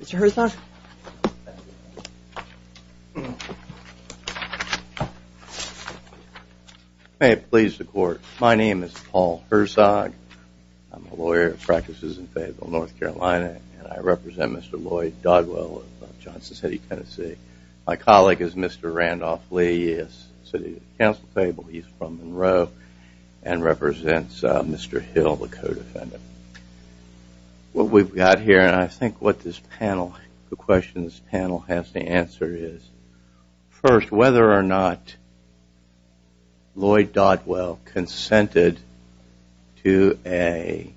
Mr. Herzog. May it please the court, my name is Paul Herzog. I'm a lawyer who practices in Fayetteville, North Carolina, and I represent Mr. Lloyd Dodwell of Johnson City, Tennessee. My colleague is Mr. Randolph Lee, City Council Fayetteville. He's from Monroe and represents Mr. Hill, the codefendant. What we've got here and I think what this panel, the question this panel has to answer is first whether or not Lloyd Dodwell consented to a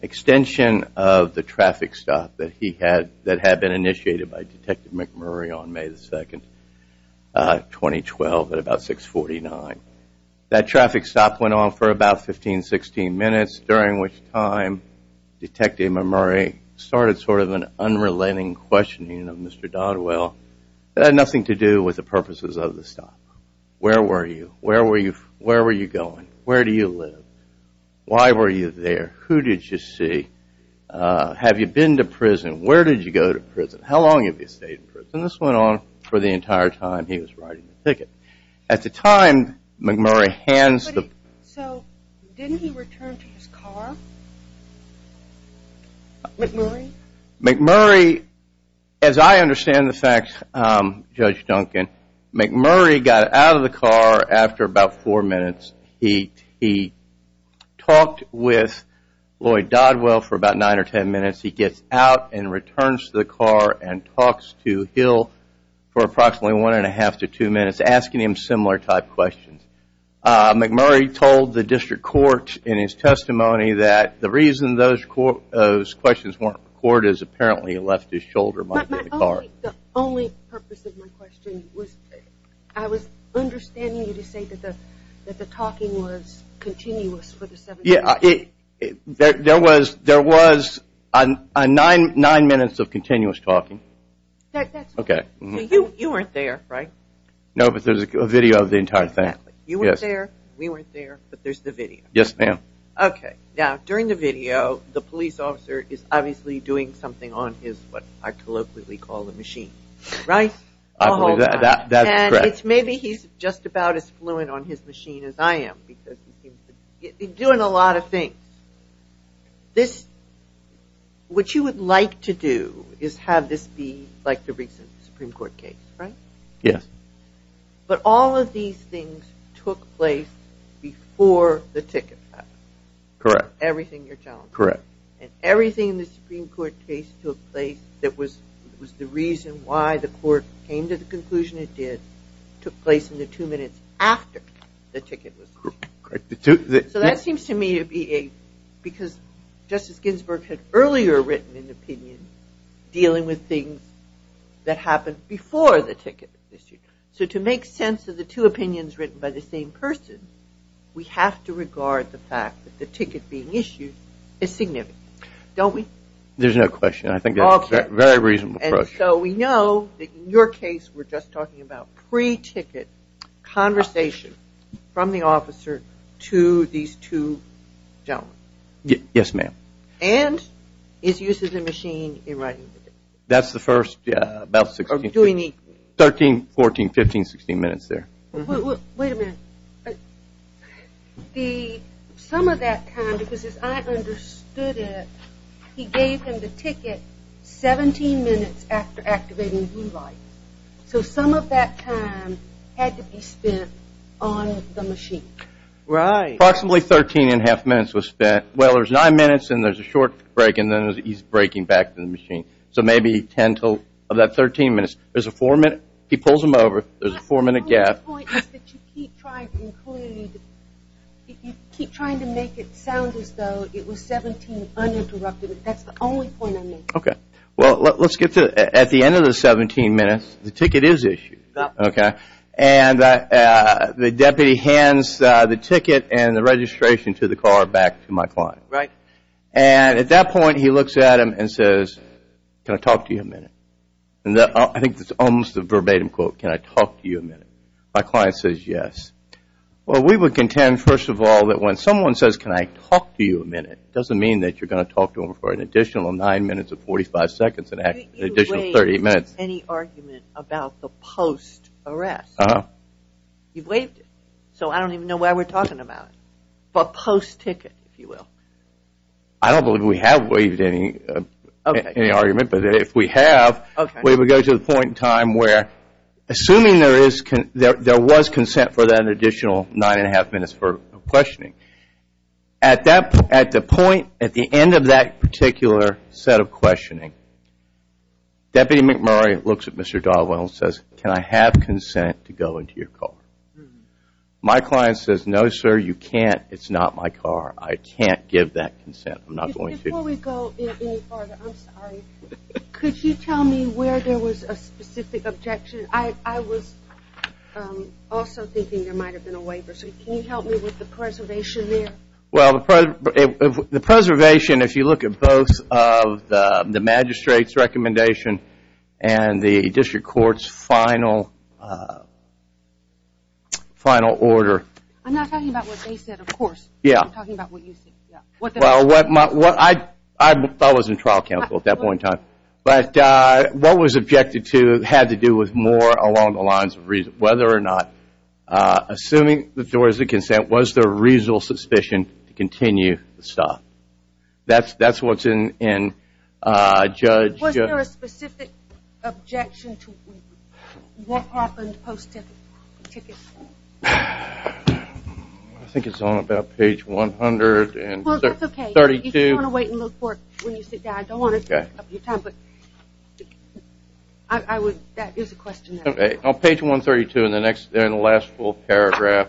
extension of the traffic stop that he had that had been initiated by Detective McMurray on May the 2nd, 2012 at about 649. That traffic stop went on for about 15-16 minutes during which time Detective McMurray started sort of an unrelenting questioning of Mr. Dodwell that had nothing to do with the purposes of the stop. Where were you? Where were you? Where were you going? Where do you live? Why were you there? Who did you see? Have you been to prison? Where did you go to prison? How long have you stayed in prison? This went on for the entire time he was writing the ticket. At the time McMurray So didn't he return to his car? McMurray? McMurray, as I understand the facts Judge Duncan, McMurray got out of the car after about four minutes. He talked with Lloyd Dodwell for about nine or ten minutes. He gets out and returns to the car and talks to Hill for approximately one and a half to two minutes asking him similar type questions. McMurray told the district court in his testimony that the reason those questions weren't recorded is apparently he left his shoulder marked in the car. The only purpose of my question was I was understanding you to say that the talking was continuous for the seven minutes. Yeah, there was nine minutes of the entire thing. You weren't there, we weren't there, but there's the video. Yes ma'am. Okay, now during the video the police officer is obviously doing something on his what I colloquially call the machine, right? I believe that. Maybe he's just about as fluent on his machine as I am. He's doing a lot of things. What you would like to do is have this be like the recent Supreme Court case, right? Yes. But all of these things took place before the ticket happened. Correct. Everything you're telling me. Correct. And everything in the Supreme Court case took place that was the reason why the court came to the conclusion it did took place in the two minutes after the ticket was issued. Correct. So that seems to me to be a, because Justice Ginsburg had earlier written an opinion dealing with things that happened before the ticket was issued. So to make sense of the two opinions written by the same person, we have to regard the fact that the ticket being issued is significant. Don't we? There's no question. I think that's a very reasonable approach. And so we know that in your case we're just talking about pre-ticket conversation from the officer to these two gentlemen. Yes ma'am. And his use of the machine in writing the ticket. That's the first, yeah, about sixteen, thirteen, fourteen, fifteen, sixteen minutes there. Wait a minute. The, some of that time, because as I understood it, he gave him the ticket seventeen minutes after activating blue lights. So some of that time had to be spent on the machine. Right. Approximately thirteen and a half minutes was spent, well there's nine minutes and there's a short break and then he's breaking back to the machine. So maybe ten to, of that thirteen minutes, there's a four minute, he pulls him over, there's a four minute gap, The other point is that you keep trying to include, you keep trying to make it sound as though it was seventeen uninterrupted. That's the only point I'm making. Okay. Well, let's get to, at the end of the seventeen minutes, the ticket is issued. Okay. And the deputy hands the ticket and the registration to the car back to my client. Right. And at that point he looks at him and says, can I talk to you a minute? And I think it's almost a verbatim quote, can I talk to you a minute? My client says yes. Well, we would contend, first of all, that when someone says can I talk to you a minute, it doesn't mean that you're going to talk to them for an additional nine minutes or forty-five seconds, an additional thirty minutes. You've waived any argument about the post-arrest. Uh-huh. You've waived it. So I don't even know why we're talking about it. For post-ticket, if you will. I don't believe we have waived any argument, but if we have, we would go to the point in time where, assuming there was consent for that additional nine and a half minutes for questioning. At the point, at the end of that particular set of questioning, Deputy McMurray looks at Mr. Dogwell and says, can I have consent to go into your car? My client says, no, sir, you can't. It's not my car. I can't give that consent. I'm not going to. Before we go any farther, I'm sorry, could you tell me where there was a specific objection? I was also thinking there might have been a waiver, so can you help me with the preservation there? Well, the preservation, if you look at both of the magistrate's recommendation and the district court's final order. I'm not talking about what they said, of course. I'm talking about what you said. I thought I was in trial counsel at that point in time. But what was objected to had to do with more along the lines of whether or not, assuming there was a consent, was there a reasonable suspicion to continue the stop? That's what's in Judge... Was there a specific objection to Warthof and post-ticket? I think it's on about page 132. Well, that's okay. You just want to wait and look for it when you sit down. I don't want to take up your time, but that is a question. On page 132, in the last full paragraph,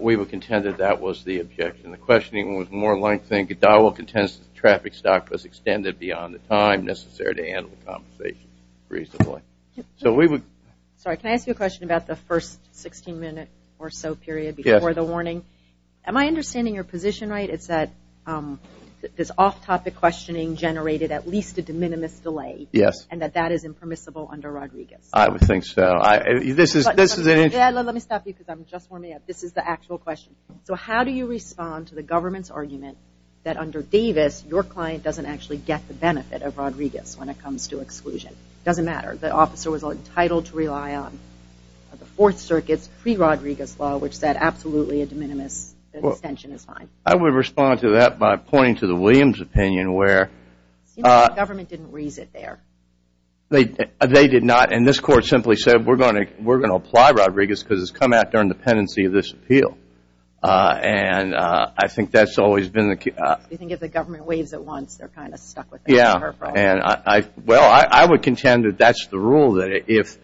we would contend that that was the objection. The questioning was more lengthening. Dogwell contends that the traffic stop was extended beyond the time necessary to handle the conversation reasonably. Sorry, can I ask you a question about the first 16 minute or so period before the warning? Yes. Am I understanding your position right? It's that this off-topic questioning generated at least a de minimis delay? Yes. And that that is impermissible under Rodriguez? I would think so. Let me stop you because I'm just warming up. This is the actual question. So how do you respond to the government's argument that under Davis, your client doesn't actually get the benefit of Rodriguez when it comes to exclusion? It doesn't matter. The officer was entitled to rely on the Fourth Circuit's pre-Rodriguez law, which said absolutely a de minimis extension is fine. I would respond to that by pointing to the Williams opinion where... It seems like the government didn't raise it there. They did not. And this court simply said we're going to apply Rodriguez because it's come out during the pendency of this appeal. And I think that's always been the case. You think if the government waives it once, they're kind of stuck with that? Well, I would contend that that's the rule, that if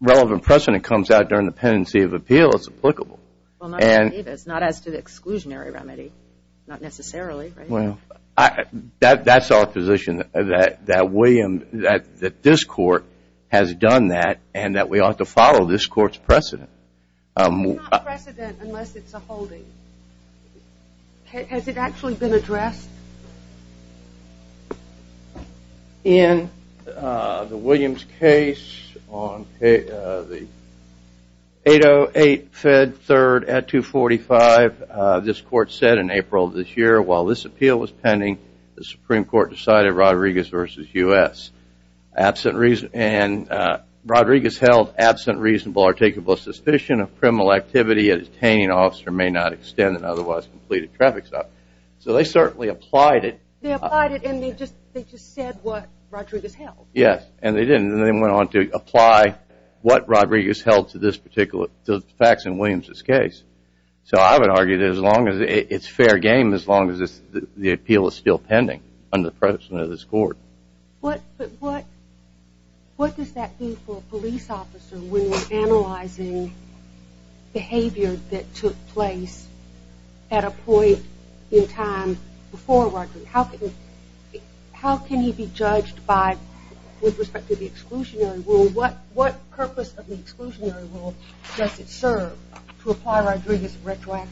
relevant precedent comes out during the pendency of appeal, it's applicable. Well, not under Davis. Not as to the exclusionary remedy. Not necessarily, right? Well, that's our position, that this court has done that and that we ought to follow this court's precedent. It's not precedent unless it's a holding. Has it actually been addressed? In the Williams case on 808 Fed 3rd at 245, this court said in April of this year, while this appeal was pending, the Supreme Court decided Rodriguez versus U.S. And Rodriguez held absent reasonable or takeable suspicion of criminal activity, a detaining officer may not extend an otherwise completed traffic stop. So they certainly applied it. They applied it and they just said what Rodriguez held. Yes, and they didn't, and they went on to apply what Rodriguez held to this particular, to the facts in Williams' case. So I would argue that as long as, it's fair game as long as the appeal is still pending under the precedent of this court. But what does that mean for a police officer when analyzing behavior that took place at a point in time before Rodriguez? How can he be judged by, with respect to the exclusionary rule? What purpose of the exclusionary rule does it serve to apply Rodriguez retroactively?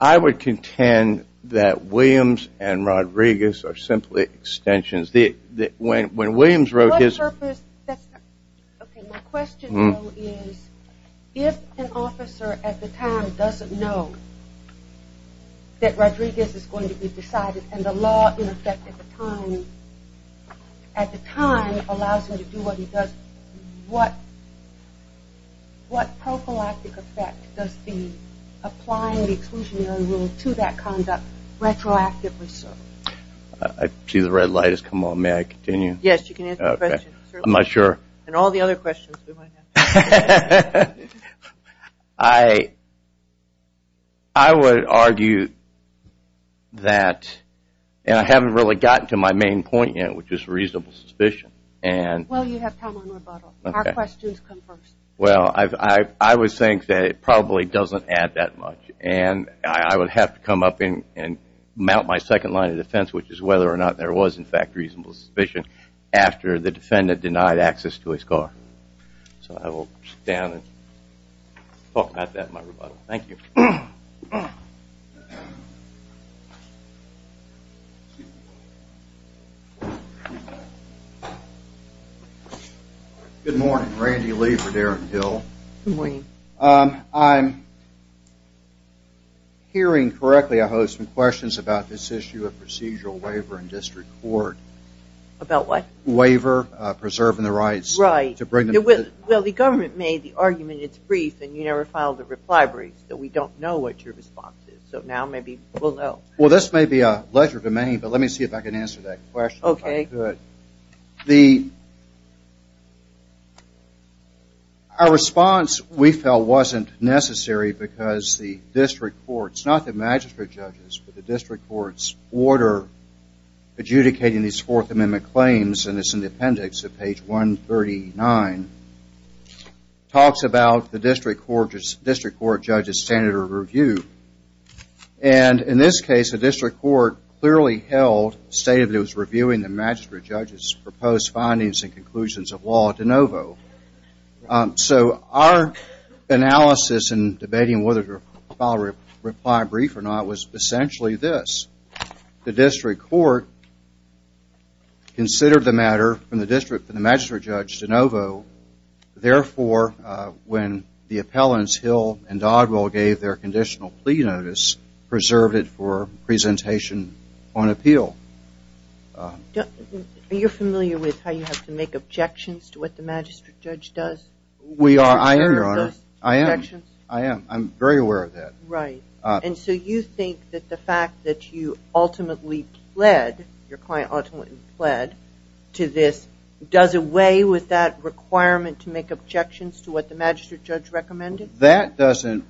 I would contend that Williams and Rodriguez are simply extensions. When Williams wrote his... What purpose, that's not... Okay, my question though is, if an officer at the time doesn't know that Rodriguez is going to be decided and the law in effect at the time, allows him to do what he does, what prophylactic effect does the applying the exclusionary rule to that conduct retroactively serve? I see the red light has come on, may I continue? Yes, you can answer the question. I'm not sure. And all the other questions we might have. I would argue that, and I haven't really gotten to my main point yet, which is reasonable suspicion. Well, you have time on rebuttal. Our questions come first. Well, I would think that it probably doesn't add that much. And I would have to come up and mount my second line of defense, which is whether or not there was in fact reasonable suspicion after the defendant denied access to his car. So I will sit down and talk about that in my rebuttal. Thank you. Good morning, Randy Lee for Darren Hill. Good morning. I'm hearing correctly I host some questions about this issue of procedural waiver in district court. About what? Waiver, preserving the rights. Right. Well, the government made the argument it's brief and you never filed a reply brief, so we don't know what your response is. So now maybe we'll know. Well, this may be a leisure to many, but let me see if I can answer that question if I could. Okay. Our response, we felt, wasn't necessary because the district courts, not the magistrate judges, but the district court's order adjudicating these Fourth Amendment claims in this appendix at page 139, talks about the district court judge's standard of review. And in this case, the district court clearly held, stated it was reviewing the magistrate judge's proposed findings and conclusions of law de novo. So our analysis in debating whether to file a reply brief or not was essentially this. The district court considered the matter from the magistrate judge de novo. Therefore, when the appellants Hill and Dodwell gave their conditional plea notice, preserved it for presentation on appeal. Are you familiar with how you have to make objections to what the magistrate judge does? I am, Your Honor. I am. I'm very aware of that. Right. And so you think that the fact that you ultimately pled, your client ultimately pled, to this does away with that requirement to make objections to what the magistrate judge recommended? That doesn't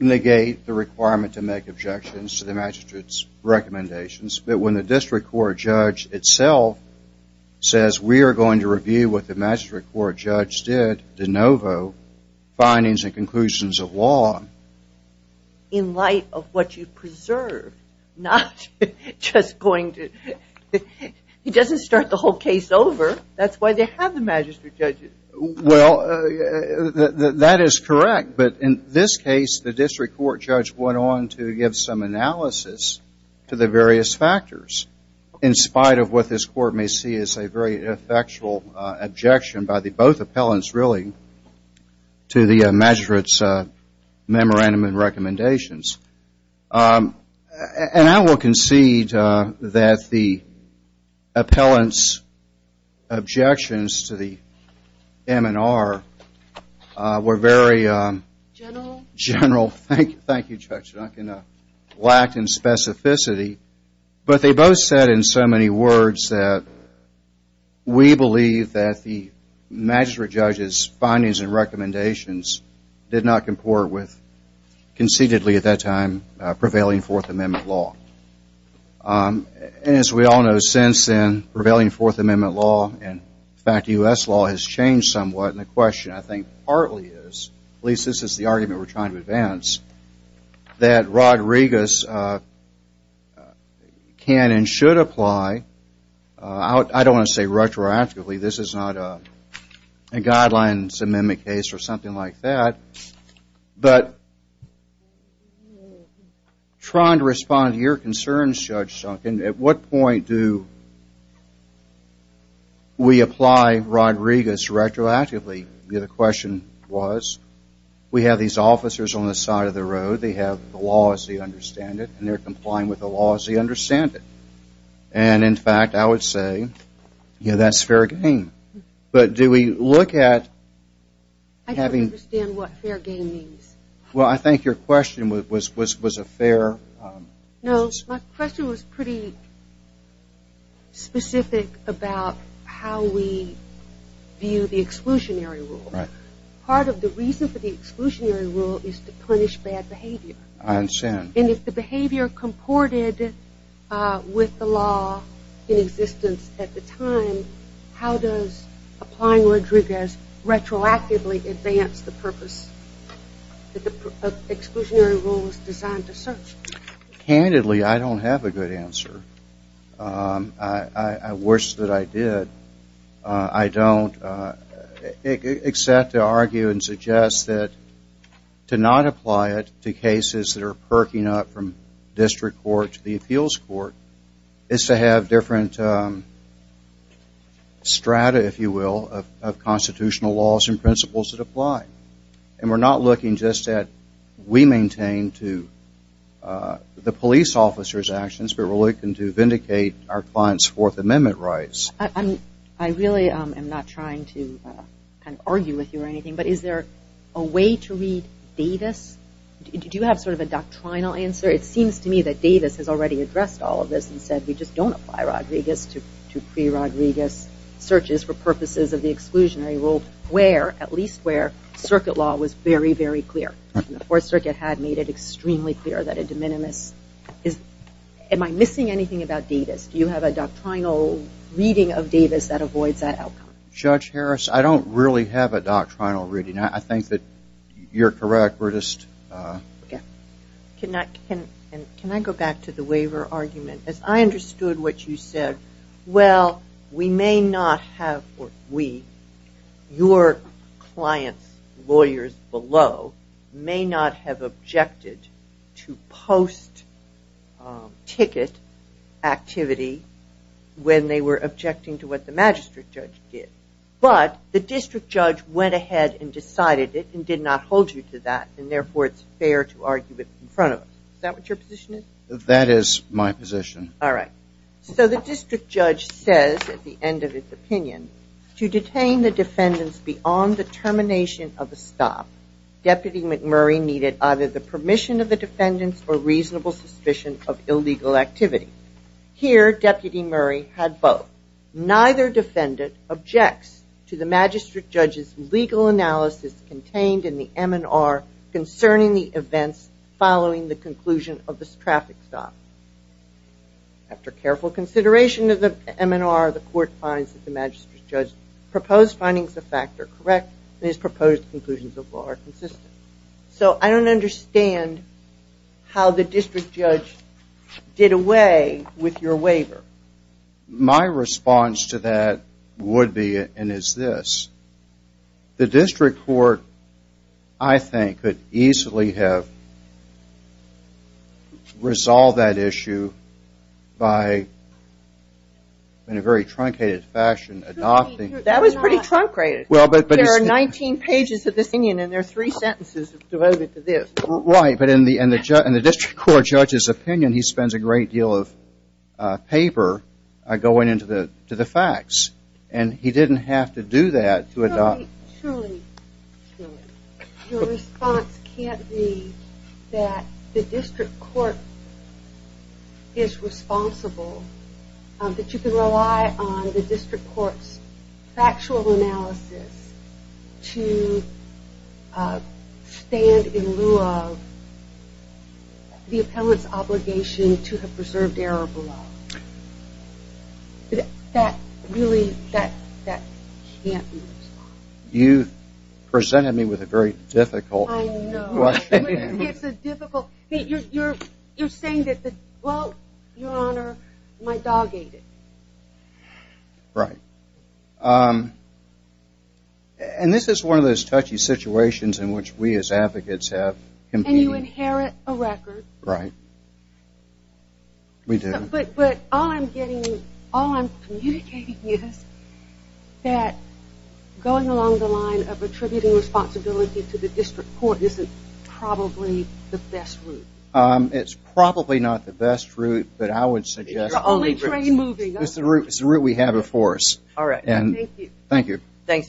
negate the requirement to make objections to the magistrate's recommendations. But when the district court judge itself says we are going to review what the magistrate court judge did de novo, findings and conclusions of law, in light of what you preserved, not just going to, it doesn't start the whole case over. That's why they have the magistrate judge. Well, that is correct. But in this case, the district court judge went on to give some analysis to the various factors. In spite of what this court may see as a very effectual objection by both appellants, really, to the magistrate's memorandum and recommendations. And I will concede that the appellant's objections to the M&R were very general. General? General. Thank you, Judge. I'm not going to lack in specificity, but they both said in so many words that we believe that the magistrate judge's findings and recommendations did not comport with conceitedly at that time prevailing Fourth Amendment law. And as we all know, since then, prevailing Fourth Amendment law, in fact, U.S. law, has changed somewhat. And the question, I think, partly is, at least this is the argument we're trying to advance, that Rodriguez can and should apply. I don't want to say retroactively. This is not a Guidelines Amendment case or something like that. But trying to respond to your concerns, Judge Duncan, at what point do we apply Rodriguez retroactively? The question was, we have these officers on the side of the road. They have the laws. They understand it. And they're complying with the laws. They understand it. And, in fact, I would say, yeah, that's fair game. But do we look at having – I don't understand what fair game means. Well, I think your question was a fair – Part of the reason for the exclusionary rule is to punish bad behavior. I understand. And if the behavior comported with the law in existence at the time, how does applying Rodriguez retroactively advance the purpose that the exclusionary rule was designed to serve? Candidly, I don't have a good answer. Worse that I did, I don't. Except to argue and suggest that to not apply it to cases that are perking up from district court to the appeals court is to have different strata, if you will, of constitutional laws and principles that apply. And we're not looking just at we maintain to the police officer's actions, but we're looking to vindicate our client's Fourth Amendment rights. I really am not trying to argue with you or anything, but is there a way to read Davis? Do you have sort of a doctrinal answer? It seems to me that Davis has already addressed all of this and said we just don't apply Rodriguez to pre-Rodriguez searches for purposes of the exclusionary rule, where, at least where, circuit law was very, very clear. And the Fourth Circuit had made it extremely clear that a de minimis is – am I missing anything about Davis? Do you have a doctrinal reading of Davis that avoids that outcome? Judge Harris, I don't really have a doctrinal reading. I think that you're correct. Can I go back to the waiver argument? As I understood what you said, well, we may not have – or we – your client's lawyers below may not have objected to post-ticket activities, when they were objecting to what the magistrate judge did. But the district judge went ahead and decided it and did not hold you to that. And therefore, it's fair to argue it in front of us. Is that what your position is? That is my position. All right. So the district judge says, at the end of his opinion, to detain the defendants beyond the termination of the stop, Deputy McMurray needed either the permission of the defendants or reasonable suspicion of illegal activity. Here, Deputy Murray had both. Neither defendant objects to the magistrate judge's legal analysis contained in the M&R concerning the events following the conclusion of this traffic stop. After careful consideration of the M&R, the court finds that the magistrate judge's proposed findings of fact are correct and his proposed conclusions of law are consistent. So I don't understand how the district judge did away with your waiver. My response to that would be and is this. The district court, I think, could easily have resolved that issue by, in a very truncated fashion, adopting That was pretty truncated. There are 19 pages of this opinion and there are three sentences devoted to this. Right, but in the district court judge's opinion, he spends a great deal of paper going into the facts. And he didn't have to do that to adopt Your response can't be that the district court is responsible that you can rely on the district court's factual analysis to stand in lieu of the appellant's obligation to have preserved error below. Really, that can't be the response. You presented me with a very difficult question. You're saying that, well, your honor, my dog ate it. Right. And this is one of those touchy situations in which we as advocates have competed. And you inherit a record. But all I'm communicating is that going along the line of attributing responsibility to the district court isn't probably the best route. It's probably not the best route, but I would suggest It's the route we have before us. Thanks very much. Thank you. Thank you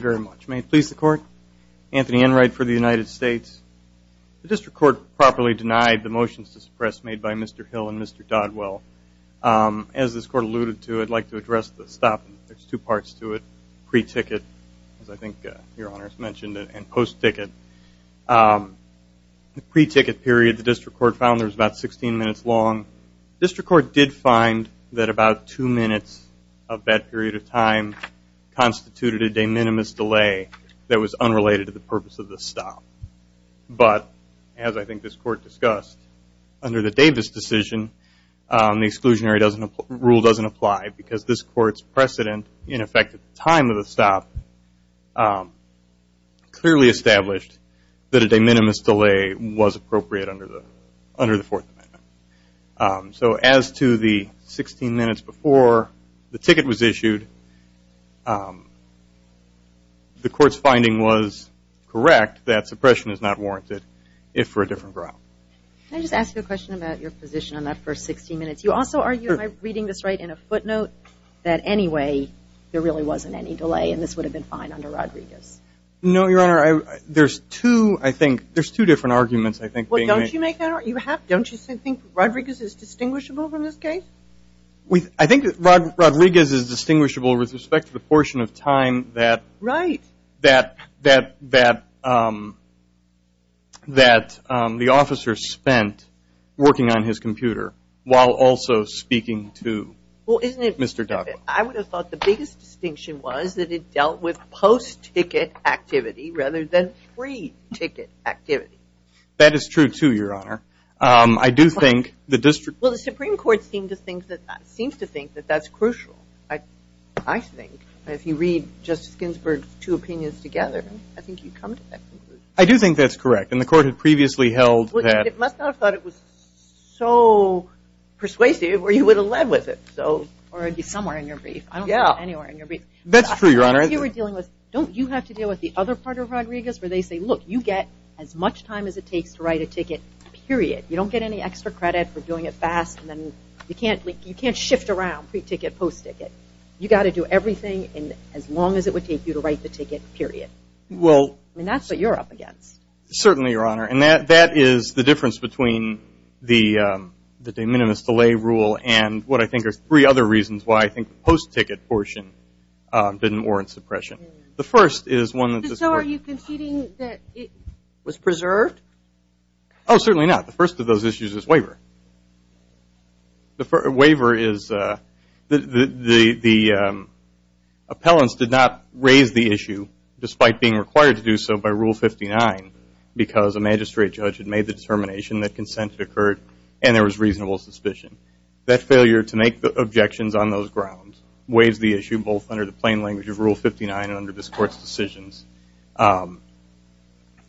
very much. May it please the court. Anthony Enright for the United States. The district court properly denied the motions to suppress made by Mr. Hill and Mr. Doddwell. As this court alluded to, I'd like to address the stop. There's two parts to it. Pre-ticket, as I think your honor has mentioned, and post-ticket. The pre-ticket period the district court found was about 16 minutes long. The district court did find that about two minutes of that period of time constituted a de minimis delay that was unrelated to the purpose of the stop. But, as I think this court discussed, under the Davis decision, the exclusionary rule doesn't apply because this court's precedent in effect at the time of the stop clearly established that a de minimis delay was appropriate under the Fourth Amendment. So, as to the 16 minutes before the ticket was issued, the court's finding was correct that suppression is not warranted, if for a different route. Can I just ask you a question about your position on that first 16 minutes? You also argue, am I reading this right, in a footnote, that anyway there really wasn't any delay and this would have been fine under Rodriguez? No, your honor. There's two, I think, there's two different arguments being made. Don't you think Rodriguez is distinguishable in this case? I think Rodriguez is distinguishable with respect to the portion of time that the officer spent working on his computer while also speaking to Mr. Duck. I would have thought the biggest distinction was that it dealt with post-ticket activity rather than free ticket activity. That is true too, your honor. Well, the Supreme Court seems to think that that's crucial, I think. If you read Justice Ginsburg's two opinions together, I think you'd come to that conclusion. I do think that's correct and the court had previously held that. It must not have thought it was so persuasive or you would have led with it. Or it would be somewhere in your brief. That's true, your honor. I think you were dealing with, don't you have to deal with the other part of Rodriguez where they say, look, you get as much time as it takes to write a ticket, period. You don't get any extra credit for doing it fast and then you can't shift around pre-ticket, post-ticket. You got to do everything as long as it would take you to write the ticket, period. That's what you're up against. Certainly, your honor. And that is the difference between the de minimis delay rule and what I think are three other reasons why I think the post-ticket portion didn't warrant suppression. The first is one that this court... So are you conceding that it was preserved? Oh, certainly not. The first of those issues is waiver. Waiver is the appellants did not raise the issue despite being required to do so by Rule 59 because a magistrate judge had made the determination that consent had occurred and there was reasonable suspicion. That failure to make the objections on those grounds weighs the issue both under the plain language of Rule 59 and under this court's decisions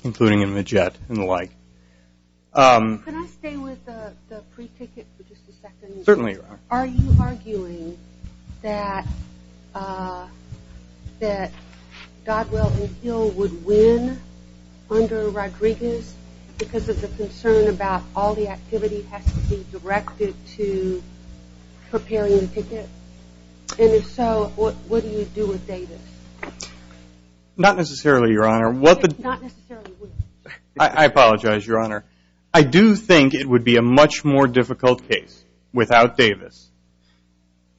including in Majette and the like. Can I stay with the pre-ticket for just a second? Certainly, your honor. Are you arguing that that Godwell and Hill would win under Rodriguez because of the concern about all the activity has to be directed to preparing the ticket? And if so, what do you do with Davis? Not necessarily, your honor. I apologize, your honor. I do think it would be a much more difficult case without Davis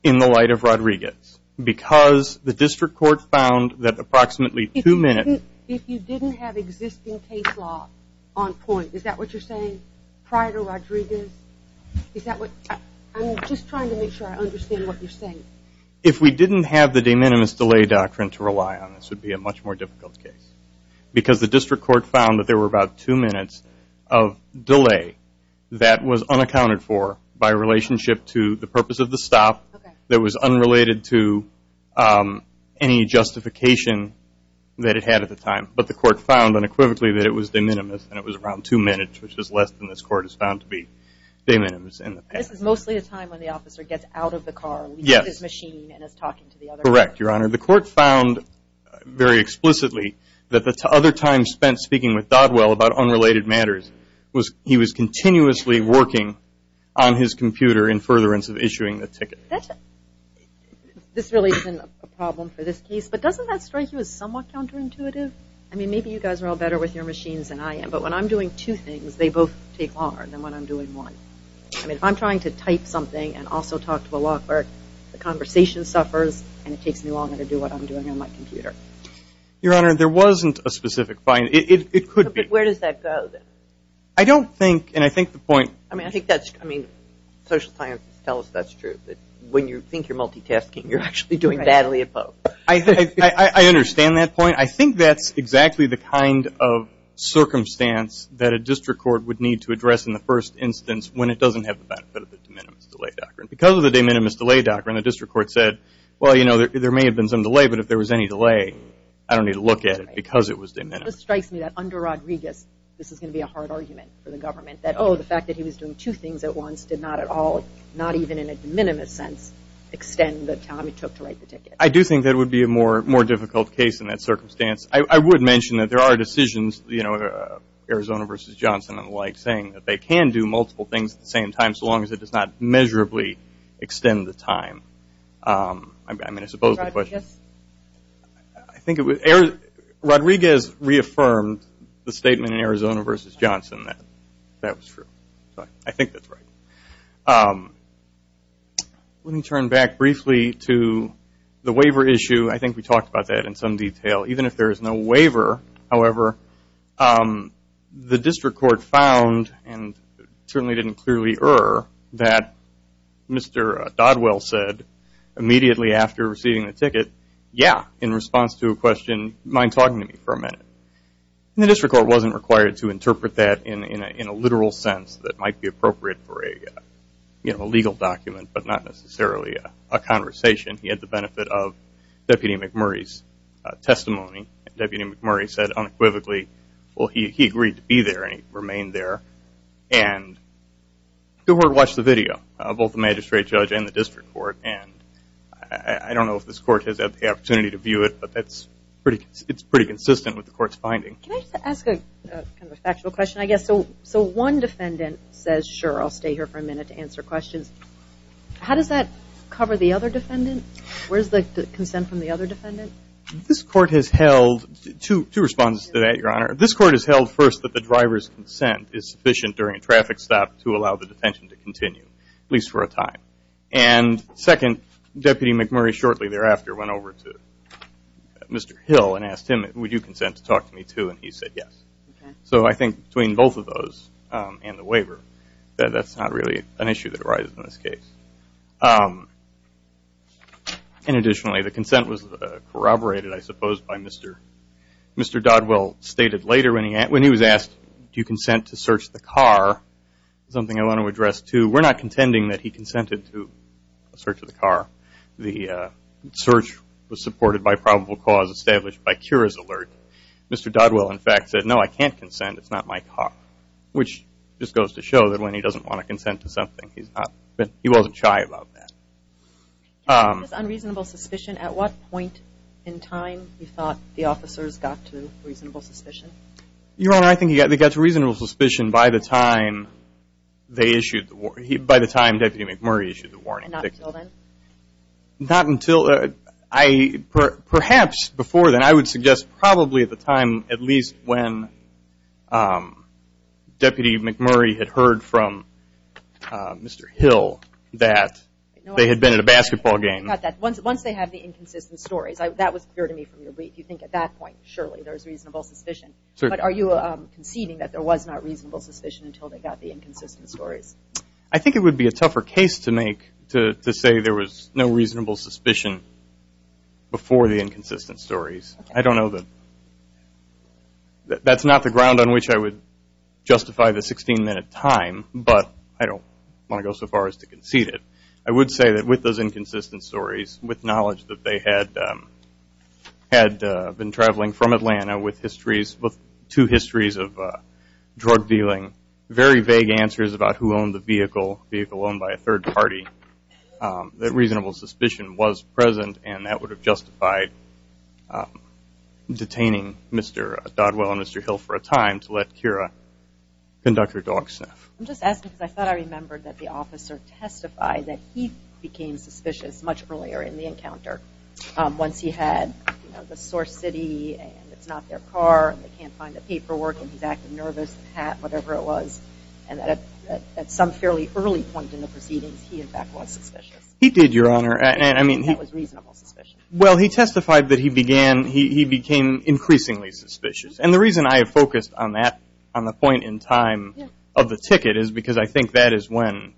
in the light of Rodriguez because the district court found that approximately two minutes... If you didn't have existing case law on point, is that what you're saying prior to Rodriguez? I'm just trying to make sure I understand what you're saying. If we didn't have the de minimis delay doctrine to rely on, this would be a much more difficult case because the district court found that there were about two minutes of delay that was unaccounted for by relationship to the purpose of the stop that was unrelated to any justification that it had at the time. But the court found unequivocally that it was de minimis and it was around two minutes, which is less than this court has found to be de minimis. This is mostly a time when the officer gets out of the car, leaves his machine, and is talking to the other person. Correct, your honor. The court found very explicitly that the other time spent speaking with Godwell about unrelated matters was he was continuously working on his computer in furtherance of issuing the ticket. This really isn't a problem for this case, but doesn't that strike you as somewhat counterintuitive? I mean, maybe you guys are all better with your machines than I am, but when I'm doing two things, they both take longer than when I'm doing one. I mean, if I'm trying to type something and also talk to a law clerk, the conversation suffers and it takes me longer to do what I'm doing on my computer. Your honor, there wasn't a specific fine. It could be. But where does that go, then? I don't think, and I think the point. I mean, I think that's, I mean, social sciences tell us that's true, that when you think you're multitasking, you're actually doing badly at both. I understand that point. I think that's exactly the kind of circumstance that a district court would need to address in the first instance when it doesn't have the benefit of the de minimis delay doctrine. Because of the de minimis delay doctrine, the district court said, well, you know, there may have been some delay, but if there was any delay, I don't need to look at it because it was de minimis. This strikes me that under Rodriguez, this is going to be a hard argument for the government that, oh, the fact that he was doing two things at once did not at all, not even in a de minimis sense, extend the time it took to write the ticket. I do think that would be a more difficult case in that circumstance. I would mention that there are decisions, you know, Arizona v. Johnson and the like, saying that they can do multiple things at the same time, so long as it does not measurably extend the time. I mean, I suppose the question. Rodriguez? I think it was, Rodriguez reaffirmed the statement in Arizona v. Johnson that that was true. I think that's right. Let me turn back briefly to the waiver issue. I think we talked about that in some detail. Even if there is no waiver, however, the district court found and certainly didn't clearly err that Mr. Dodwell said immediately after receiving the ticket, yeah, in response to a question, mind talking to me for a minute. The district court wasn't required to interpret that in a literal sense that might be appropriate for a legal document, but not necessarily a conversation. He had the benefit of Deputy McMurray's testimony. Deputy McMurray said unequivocally, well, he agreed to be there and he remained there. Watch the video, both the magistrate judge and the district court. I don't know if this court has had the opportunity to view it, but it's pretty consistent with the court's finding. Can I just ask a factual question? One defendant says, sure, I'll stay here for a minute to answer questions. How does that cover the other defendant? Where's the consent from the other defendant? Two responses to that, Your Honor. This court has held first that the driver's consent is sufficient during a traffic stop to allow the detention to continue, at least for a time. Second, Deputy McMurray shortly thereafter went over to Mr. Hill and asked him, would you consent to talk to me too? And he said yes. So I think between both of those and the waiver, that's not really an issue that arises in this case. And additionally, the consent was corroborated, I suppose, by Mr. Dodwell stated later when he was asked, do you consent to search the car? Something I want to address too. We're not contending that he consented to a search of the car. The search was supported by probable cause established by Mr. Dodwell in fact said, no, I can't consent. It's not my car. Which just goes to show that when he doesn't want to consent to something, he wasn't shy about that. On reasonable suspicion, at what point in time you thought the officers got to reasonable suspicion? Your Honor, I think they got to reasonable suspicion by the time they issued, by the time Deputy McMurray issued the warning. Not until then? Not until, perhaps before then. I would suggest probably at the time, at least when Deputy McMurray had heard from Mr. Hill that they had been at a basketball game. Once they had the inconsistent stories. That was clear to me from your brief. You think at that point surely there was reasonable suspicion. But are you conceding that there was not reasonable suspicion until they got the inconsistent stories? I think it would be a tougher case to make to say there was no reasonable suspicion before the inconsistent stories. I don't know that that's not the ground on which I would justify the 16 minute time, but I don't want to go so far as to concede it. I would say that with those inconsistent stories, with knowledge that they had been traveling from Atlanta with histories with two histories of drug dealing, very vague answers about who owned the vehicle. Vehicle owned by a third party. That reasonable suspicion was present and that would have justified detaining Mr. Dodwell and Mr. Hill for a time to let Kira conduct her dog sniff. I'm just asking because I thought I remembered that the officer testified that he became suspicious much earlier in the encounter. Once he had the sore city and it's not their car and they can't find the paperwork and he's acting nervous, the cat, whatever it was. And at some fairly early point in the proceedings, he in fact was suspicious. He did, Your Honor. That was reasonable suspicion. Well, he testified that he became increasingly suspicious. And the reason I have focused on that point in time of the ticket is because I think that is when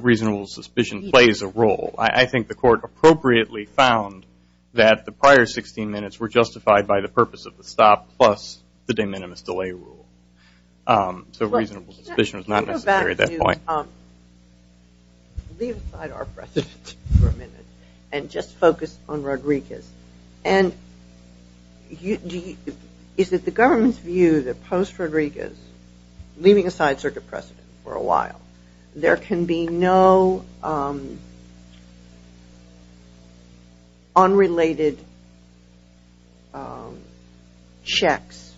reasonable suspicion plays a role. I think the court appropriately found that the prior 16 minutes were justified by the purpose of the stop plus the de minimis delay rule. So reasonable suspicion was not necessary at that point. Leave aside our precedent for a minute and just focus on Rodriguez. Is it the government's view that post Rodriguez leaving aside circuit precedent for a while, there can be no unrelated checks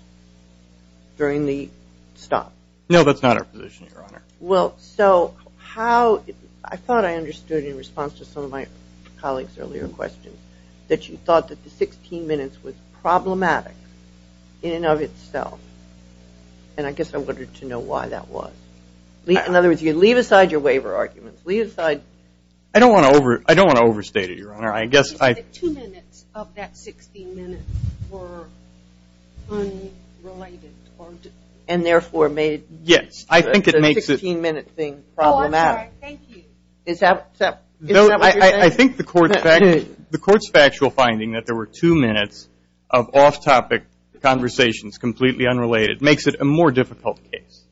during the stop? No, that's not our position, Your Honor. Well, so how, I thought I understood in response to some of my colleagues' earlier questions that you thought that the 16 minutes was problematic in and of itself. And I guess I wanted to know why that was. In other words, you leave aside your waiver arguments. Leave aside... I don't want to overstate it, Your Honor. I guess I... The two minutes of that 16 minutes were unrelated. And therefore made the 16 minute thing problematic. Oh, I'm sorry. Thank you. Is that what you're saying? I think the court's factual finding that there were two minutes of off-topic conversations, completely unrelated, makes it a more difficult case.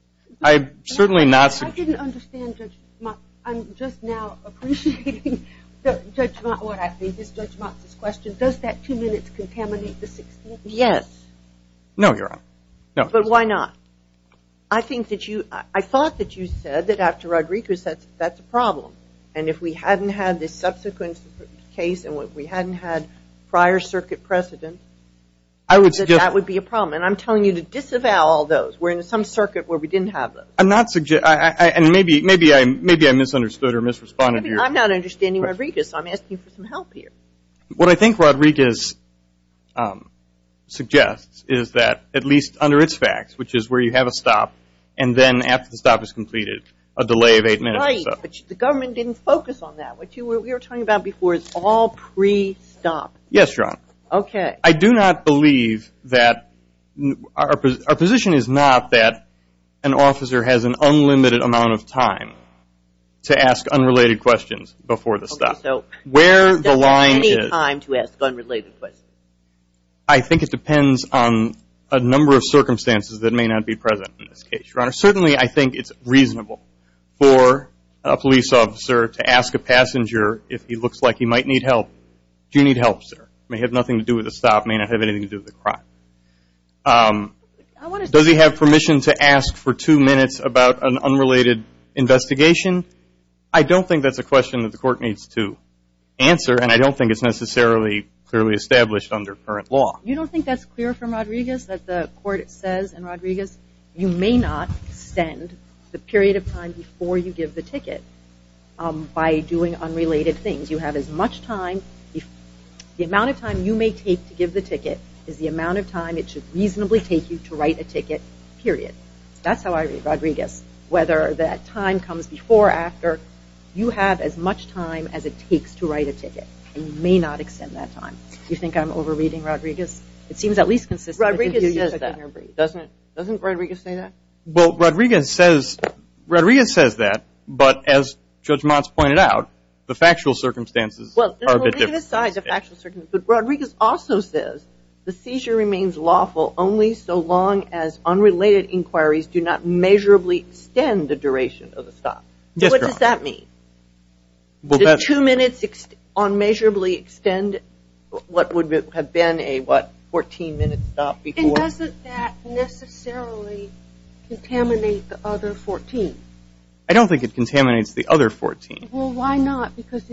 I certainly not... I didn't understand Judge Motz. I'm just now appreciating what I think is Judge Motz's question. Does that two minutes contaminate the 16 minutes? Yes. No, Your Honor. But why not? I think that you... I thought that you said that after Rodriguez, that's a problem. And if we hadn't had this subsequent case and we hadn't had prior circuit precedent, that would be a problem. And I'm telling you to disavow all those. We're in some circuit where we didn't have those. I'm not... Maybe I misunderstood or misresponded. I'm not understanding Rodriguez. I'm asking for some help here. What I think Rodriguez suggests is that at least under its facts, which is where you have a stop, and then after the stop is completed, a delay of eight minutes. Right. But the government didn't focus on that. What we were talking about before is all pre-stop. Yes, Your Honor. Okay. I do not believe that... Our position is not that an officer has an unlimited amount of time to ask unrelated questions before the stop. Okay. So, does he have any time to ask unrelated questions? I think it depends on a number of circumstances that may not be present in this case, Your Honor. Certainly, I think it's reasonable for a police officer to ask a passenger if he looks like he might need help. Do you need help, sir? It may have nothing to do with the stop. It may not have anything to do with the crime. Does he have permission to ask for two minutes about an unrelated investigation? I don't think that's a question that the court needs to answer, and I don't think it's necessarily clearly established under current law. You don't think that's clear from Rodriguez, that the court says in Rodriguez you may not send the period of time before you give the ticket by doing unrelated things? You have as much time... The amount of time you may take to give the ticket is the amount of time it should reasonably take you to write a ticket, period. That's how I read it. The time comes before or after. You have as much time as it takes to write a ticket, and you may not extend that time. Do you think I'm overreading Rodriguez? It seems at least consistent. Rodriguez says that. Doesn't Rodriguez say that? Well, Rodriguez says that, but as Judge Motz pointed out, the factual circumstances are a bit different. Well, let's put that aside, the factual circumstances. Rodriguez also says the seizure remains lawful only so long as unrelated inquiries do not unmeasurably extend the duration of the stop. What does that mean? The two minutes unmeasurably extend what would have been a, what, 14-minute stop before? And doesn't that necessarily contaminate the other 14? I don't think it contaminates the other 14. Well, why not? Because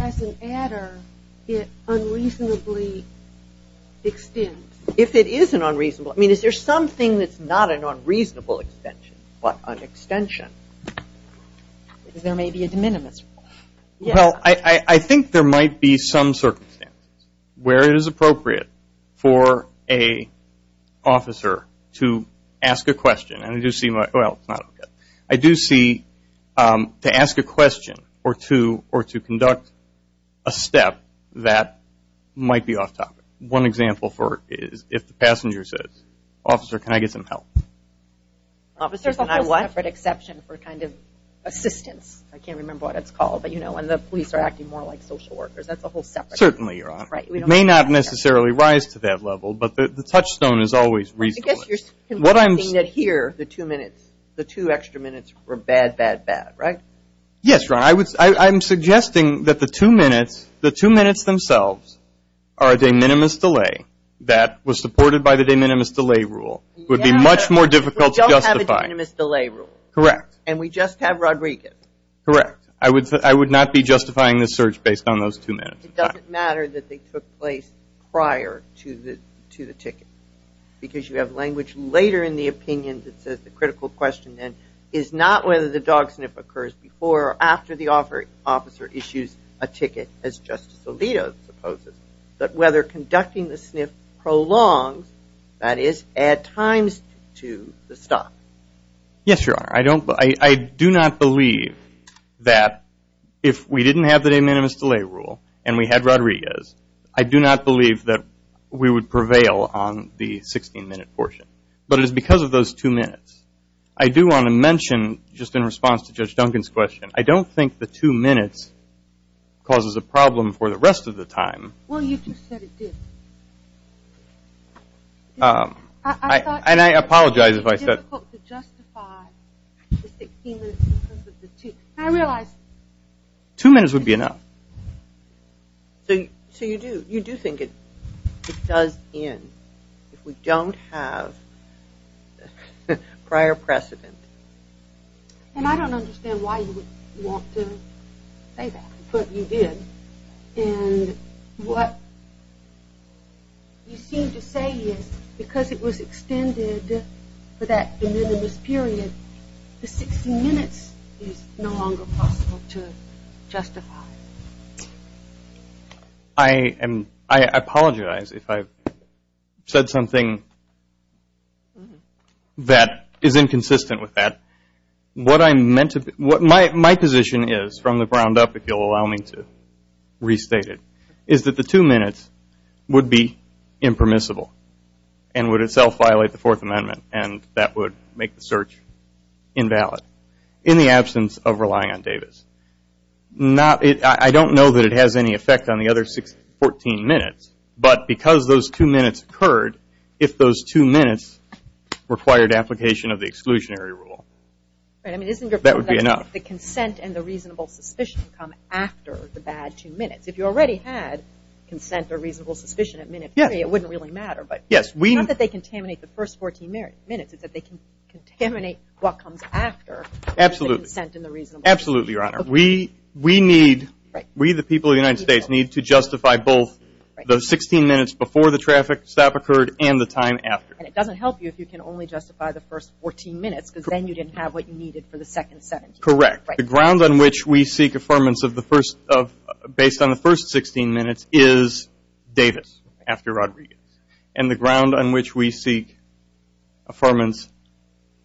as an adder, it unreasonably extends. If it is an unreasonable... I mean, is there something that's not an unreasonable extension, but an extension? There may be a de minimis. Well, I think there might be some circumstances where it is appropriate for an officer to ask a question. And I do see, well, it's not... I do see to ask a question or to conduct a step that might be off topic. One example for it is if the officer needs some help. There's a whole separate exception for kind of assistance. I can't remember what it's called, but you know, when the police are acting more like social workers. That's a whole separate... Certainly, Your Honor. It may not necessarily rise to that level, but the touchstone is always reasonable. I guess you're suggesting that here the two minutes, the two extra minutes were bad, bad, bad, right? Yes, Your Honor. I'm suggesting that the two minutes, the two minutes themselves are a de minimis delay that was supported by the de minimis delay rule. It would be much more difficult to justify. Correct. And we just have Rodriguez. Correct. I would not be justifying this search based on those two minutes. It doesn't matter that they took place prior to the ticket. Because you have language later in the opinion that says the critical question then is not whether the dog sniff occurs before or after the officer issues a ticket, as Justice Alito supposes, but whether conducting the sniff prolongs, that is, add times to the stop. Yes, Your Honor. I do not believe that if we didn't have the de minimis delay rule and we had Rodriguez, I do not believe that we would prevail on the 16-minute portion. But it is because of those two minutes. I do want to mention, just in response to Judge Duncan's question, I don't think the two minutes causes a problem for the rest of the time. Well, you just said it did. And I apologize if I said... I thought it would be difficult to justify the 16 minutes in terms of the two. And I realize... Two minutes would be enough. So you do think it does end if we don't have prior precedent. And I don't understand why you would want to say that. But you did. And what you seem to say is because it was extended for that de minimis period, the 16 minutes is no longer possible to justify. I apologize if I've said something that is inconsistent with that. What I meant to... My position is, from the ground up, if you'll allow me to restate it, is that the two minutes would be impermissible and would itself violate the Fourth Amendment. And that would make the search invalid in the absence of relying on Davis. I don't know that it has any effect on the other 14 minutes. But because those two minutes occurred, if those two minutes required application of the exclusionary rule, that would be enough. The consent and the reasonable suspicion come after the bad two minutes. If you already had consent or reasonable suspicion at minute three, it wouldn't really matter. Not that they contaminate the first 14 minutes. It's that they contaminate what comes after the consent and the reasonable suspicion. Absolutely, Your Honor. We, the people of the United States, need to justify both the 16 minutes before the traffic stop occurred and the time after. And it doesn't help you if you can only justify the first 14 minutes because then you didn't have what you needed for the second 17. Correct. The ground on which we seek affirmance based on the first 16 minutes is Davis after Rodriguez. And the ground on which we seek affirmance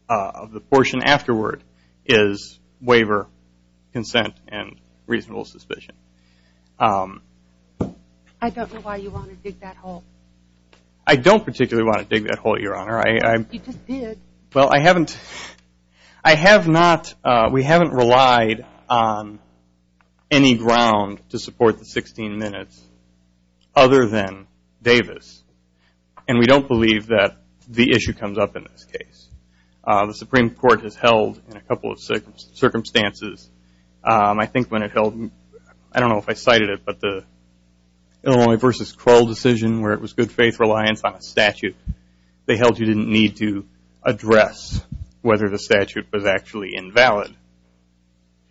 of the portion afterward is waiver, consent, and reasonable suspicion. I don't know why you want to dig that hole. I don't particularly want to dig that hole, Your Honor. You just did. Well, I haven't, I have not, we haven't relied on any ground to support the 16 minutes other than Davis. And we don't believe that the issue comes up in this case. The Supreme Court has held in a couple of circumstances, I think when it held, I don't know if I cited it, but the Illinois v. Crowell decision where it was good faith reliance on a statute. They held you didn't need to address whether the statute was actually invalid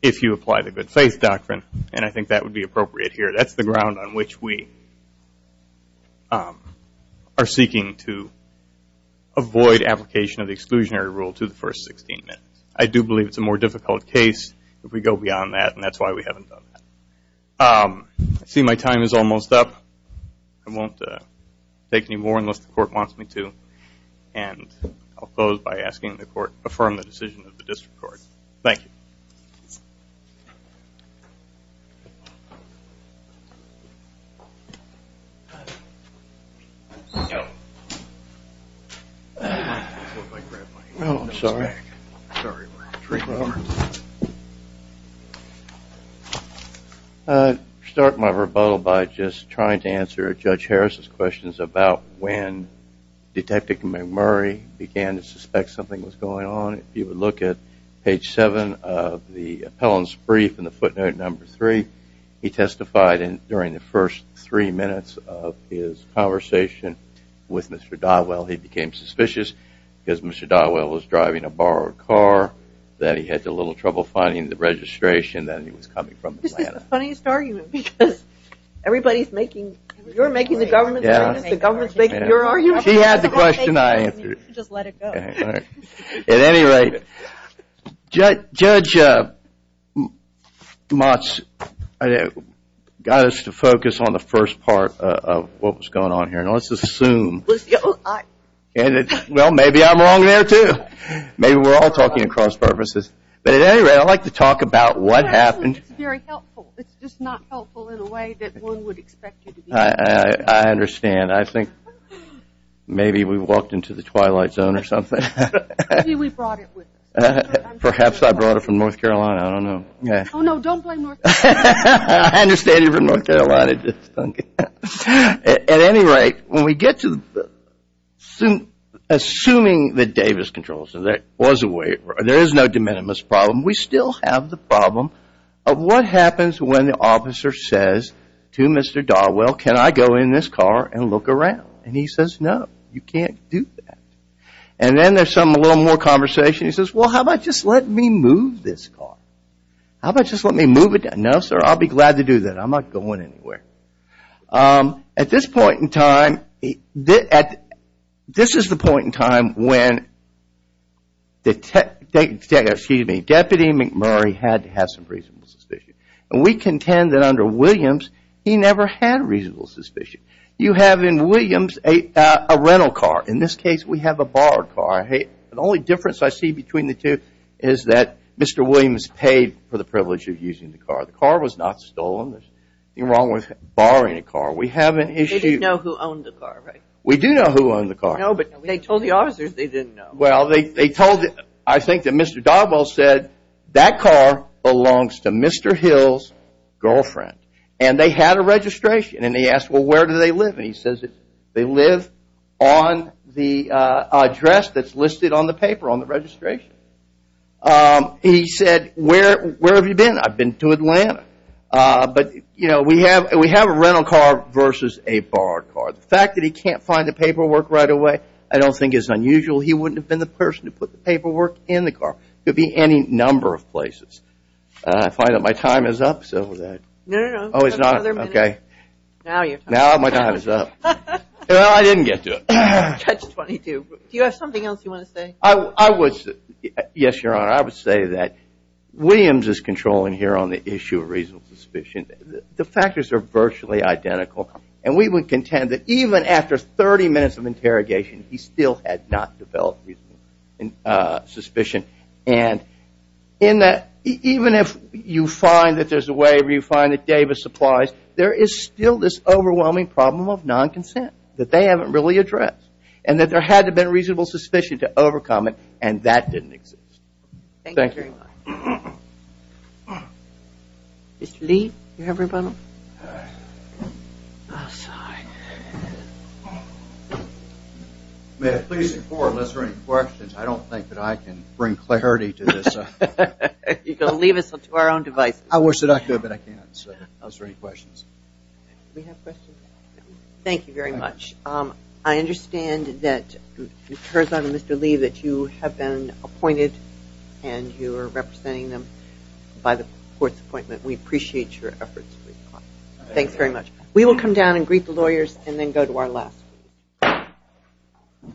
if you apply the good faith doctrine. And I think that would be appropriate here. That's the ground on which we are seeking to avoid application of the exclusionary rule to the first 16 minutes. I do believe it's a more difficult case if we go beyond that and that's why we haven't done that. I see my time is almost up. I won't take any more unless the court wants me to. And I'll close by asking the court to affirm the decision of the district court. Thank you. I start my rebuttal by just trying to answer Judge Harris' questions about when Detective McMurray began to suspect something was going on. If you look at page 7 of the appellant's brief in the footnote number 3, he testified during the first 3 minutes of his conversation with Mr. Dodwell. He became suspicious because Mr. Dodwell was driving a borrowed car, that he had a little trouble finding the registration, that he was coming from Atlanta. That's the funniest argument because everybody's making, you're making the government's argument, the government's making your argument. She has the question, I answer it. At any rate, Judge Mott's got us to focus on the first part of what was going on here. And let's assume, well maybe I'm wrong there too. Maybe we're all talking in cross purposes. But at any rate, I'd like to talk about what happened. I understand. I think maybe we walked into the twilight zone or something. Perhaps I brought it from North Carolina. I don't know. I understand you brought it from North Carolina. At any rate, when we get to assuming that Davis controls it, there is no de minimis problem. We still have the problem of what happens when the officer says to Mr. Dodwell, can I go in this car and look around? And he says, no, you can't do that. And then there's some, a little more conversation. He says, well how about just let me move this car? How about just let me move it? No sir, I'll be glad to do that. I'm not going anywhere. At this point in time, this is the point in time when Deputy McMurray had to have some reasonable suspicion. And we contend that under Williams, he never had reasonable suspicion. You have in Williams a rental car. In this case, we have a borrowed car. The only difference I see between the two is that Mr. Williams paid for the privilege of using the car. The car was not stolen. There's nothing wrong with borrowing a car. We have an issue. They didn't know who owned the car, right? We do know who owned the car. No, but they told the officers they didn't know. Well, they told, I think that Mr. Dogwell said that car belongs to Mr. Hill's girlfriend. And they had a registration. And he asked, well where do they live? And he says they live on the address that's listed on the paper on the registration. He said, where have you been? I've been to Atlanta. But, you know, we have a rental car versus a borrowed car. The fact that he can't find the paperwork right away, I don't think is unusual. He wouldn't have been the person to put the paperwork in the car. It could be any number of places. I find that my time is up. No, no, no. You have another minute. Now my time is up. Well, I didn't get to it. Judge 22. Do you have something else you want to say? Yes, Your Honor. I would say that Williams is controlling here on the issue of reasonable suspicion. The factors are virtually identical. And we would contend that even after 30 minutes of interrogation, he still had not developed reasonable suspicion. And in that even if you find that there's a waiver, you find that Davis supplies, there is still this overwhelming problem of non-consent that they haven't really addressed. And that there had to have been reasonable suspicion to overcome it and that didn't exist. Thank you very much. Mr. Lee, do you have a rebuttal? I'm sorry. May I please inform, unless there are any questions, I don't think that I can bring clarity to this. You can leave it to our own devices. I wish that I could, but I can't. Thank you very much. I understand that it occurs to Mr. Lee that you have been appointed and you are representing them by the court's appointment. We appreciate your efforts. We will come down and greet the lawyers and then go to our last meeting.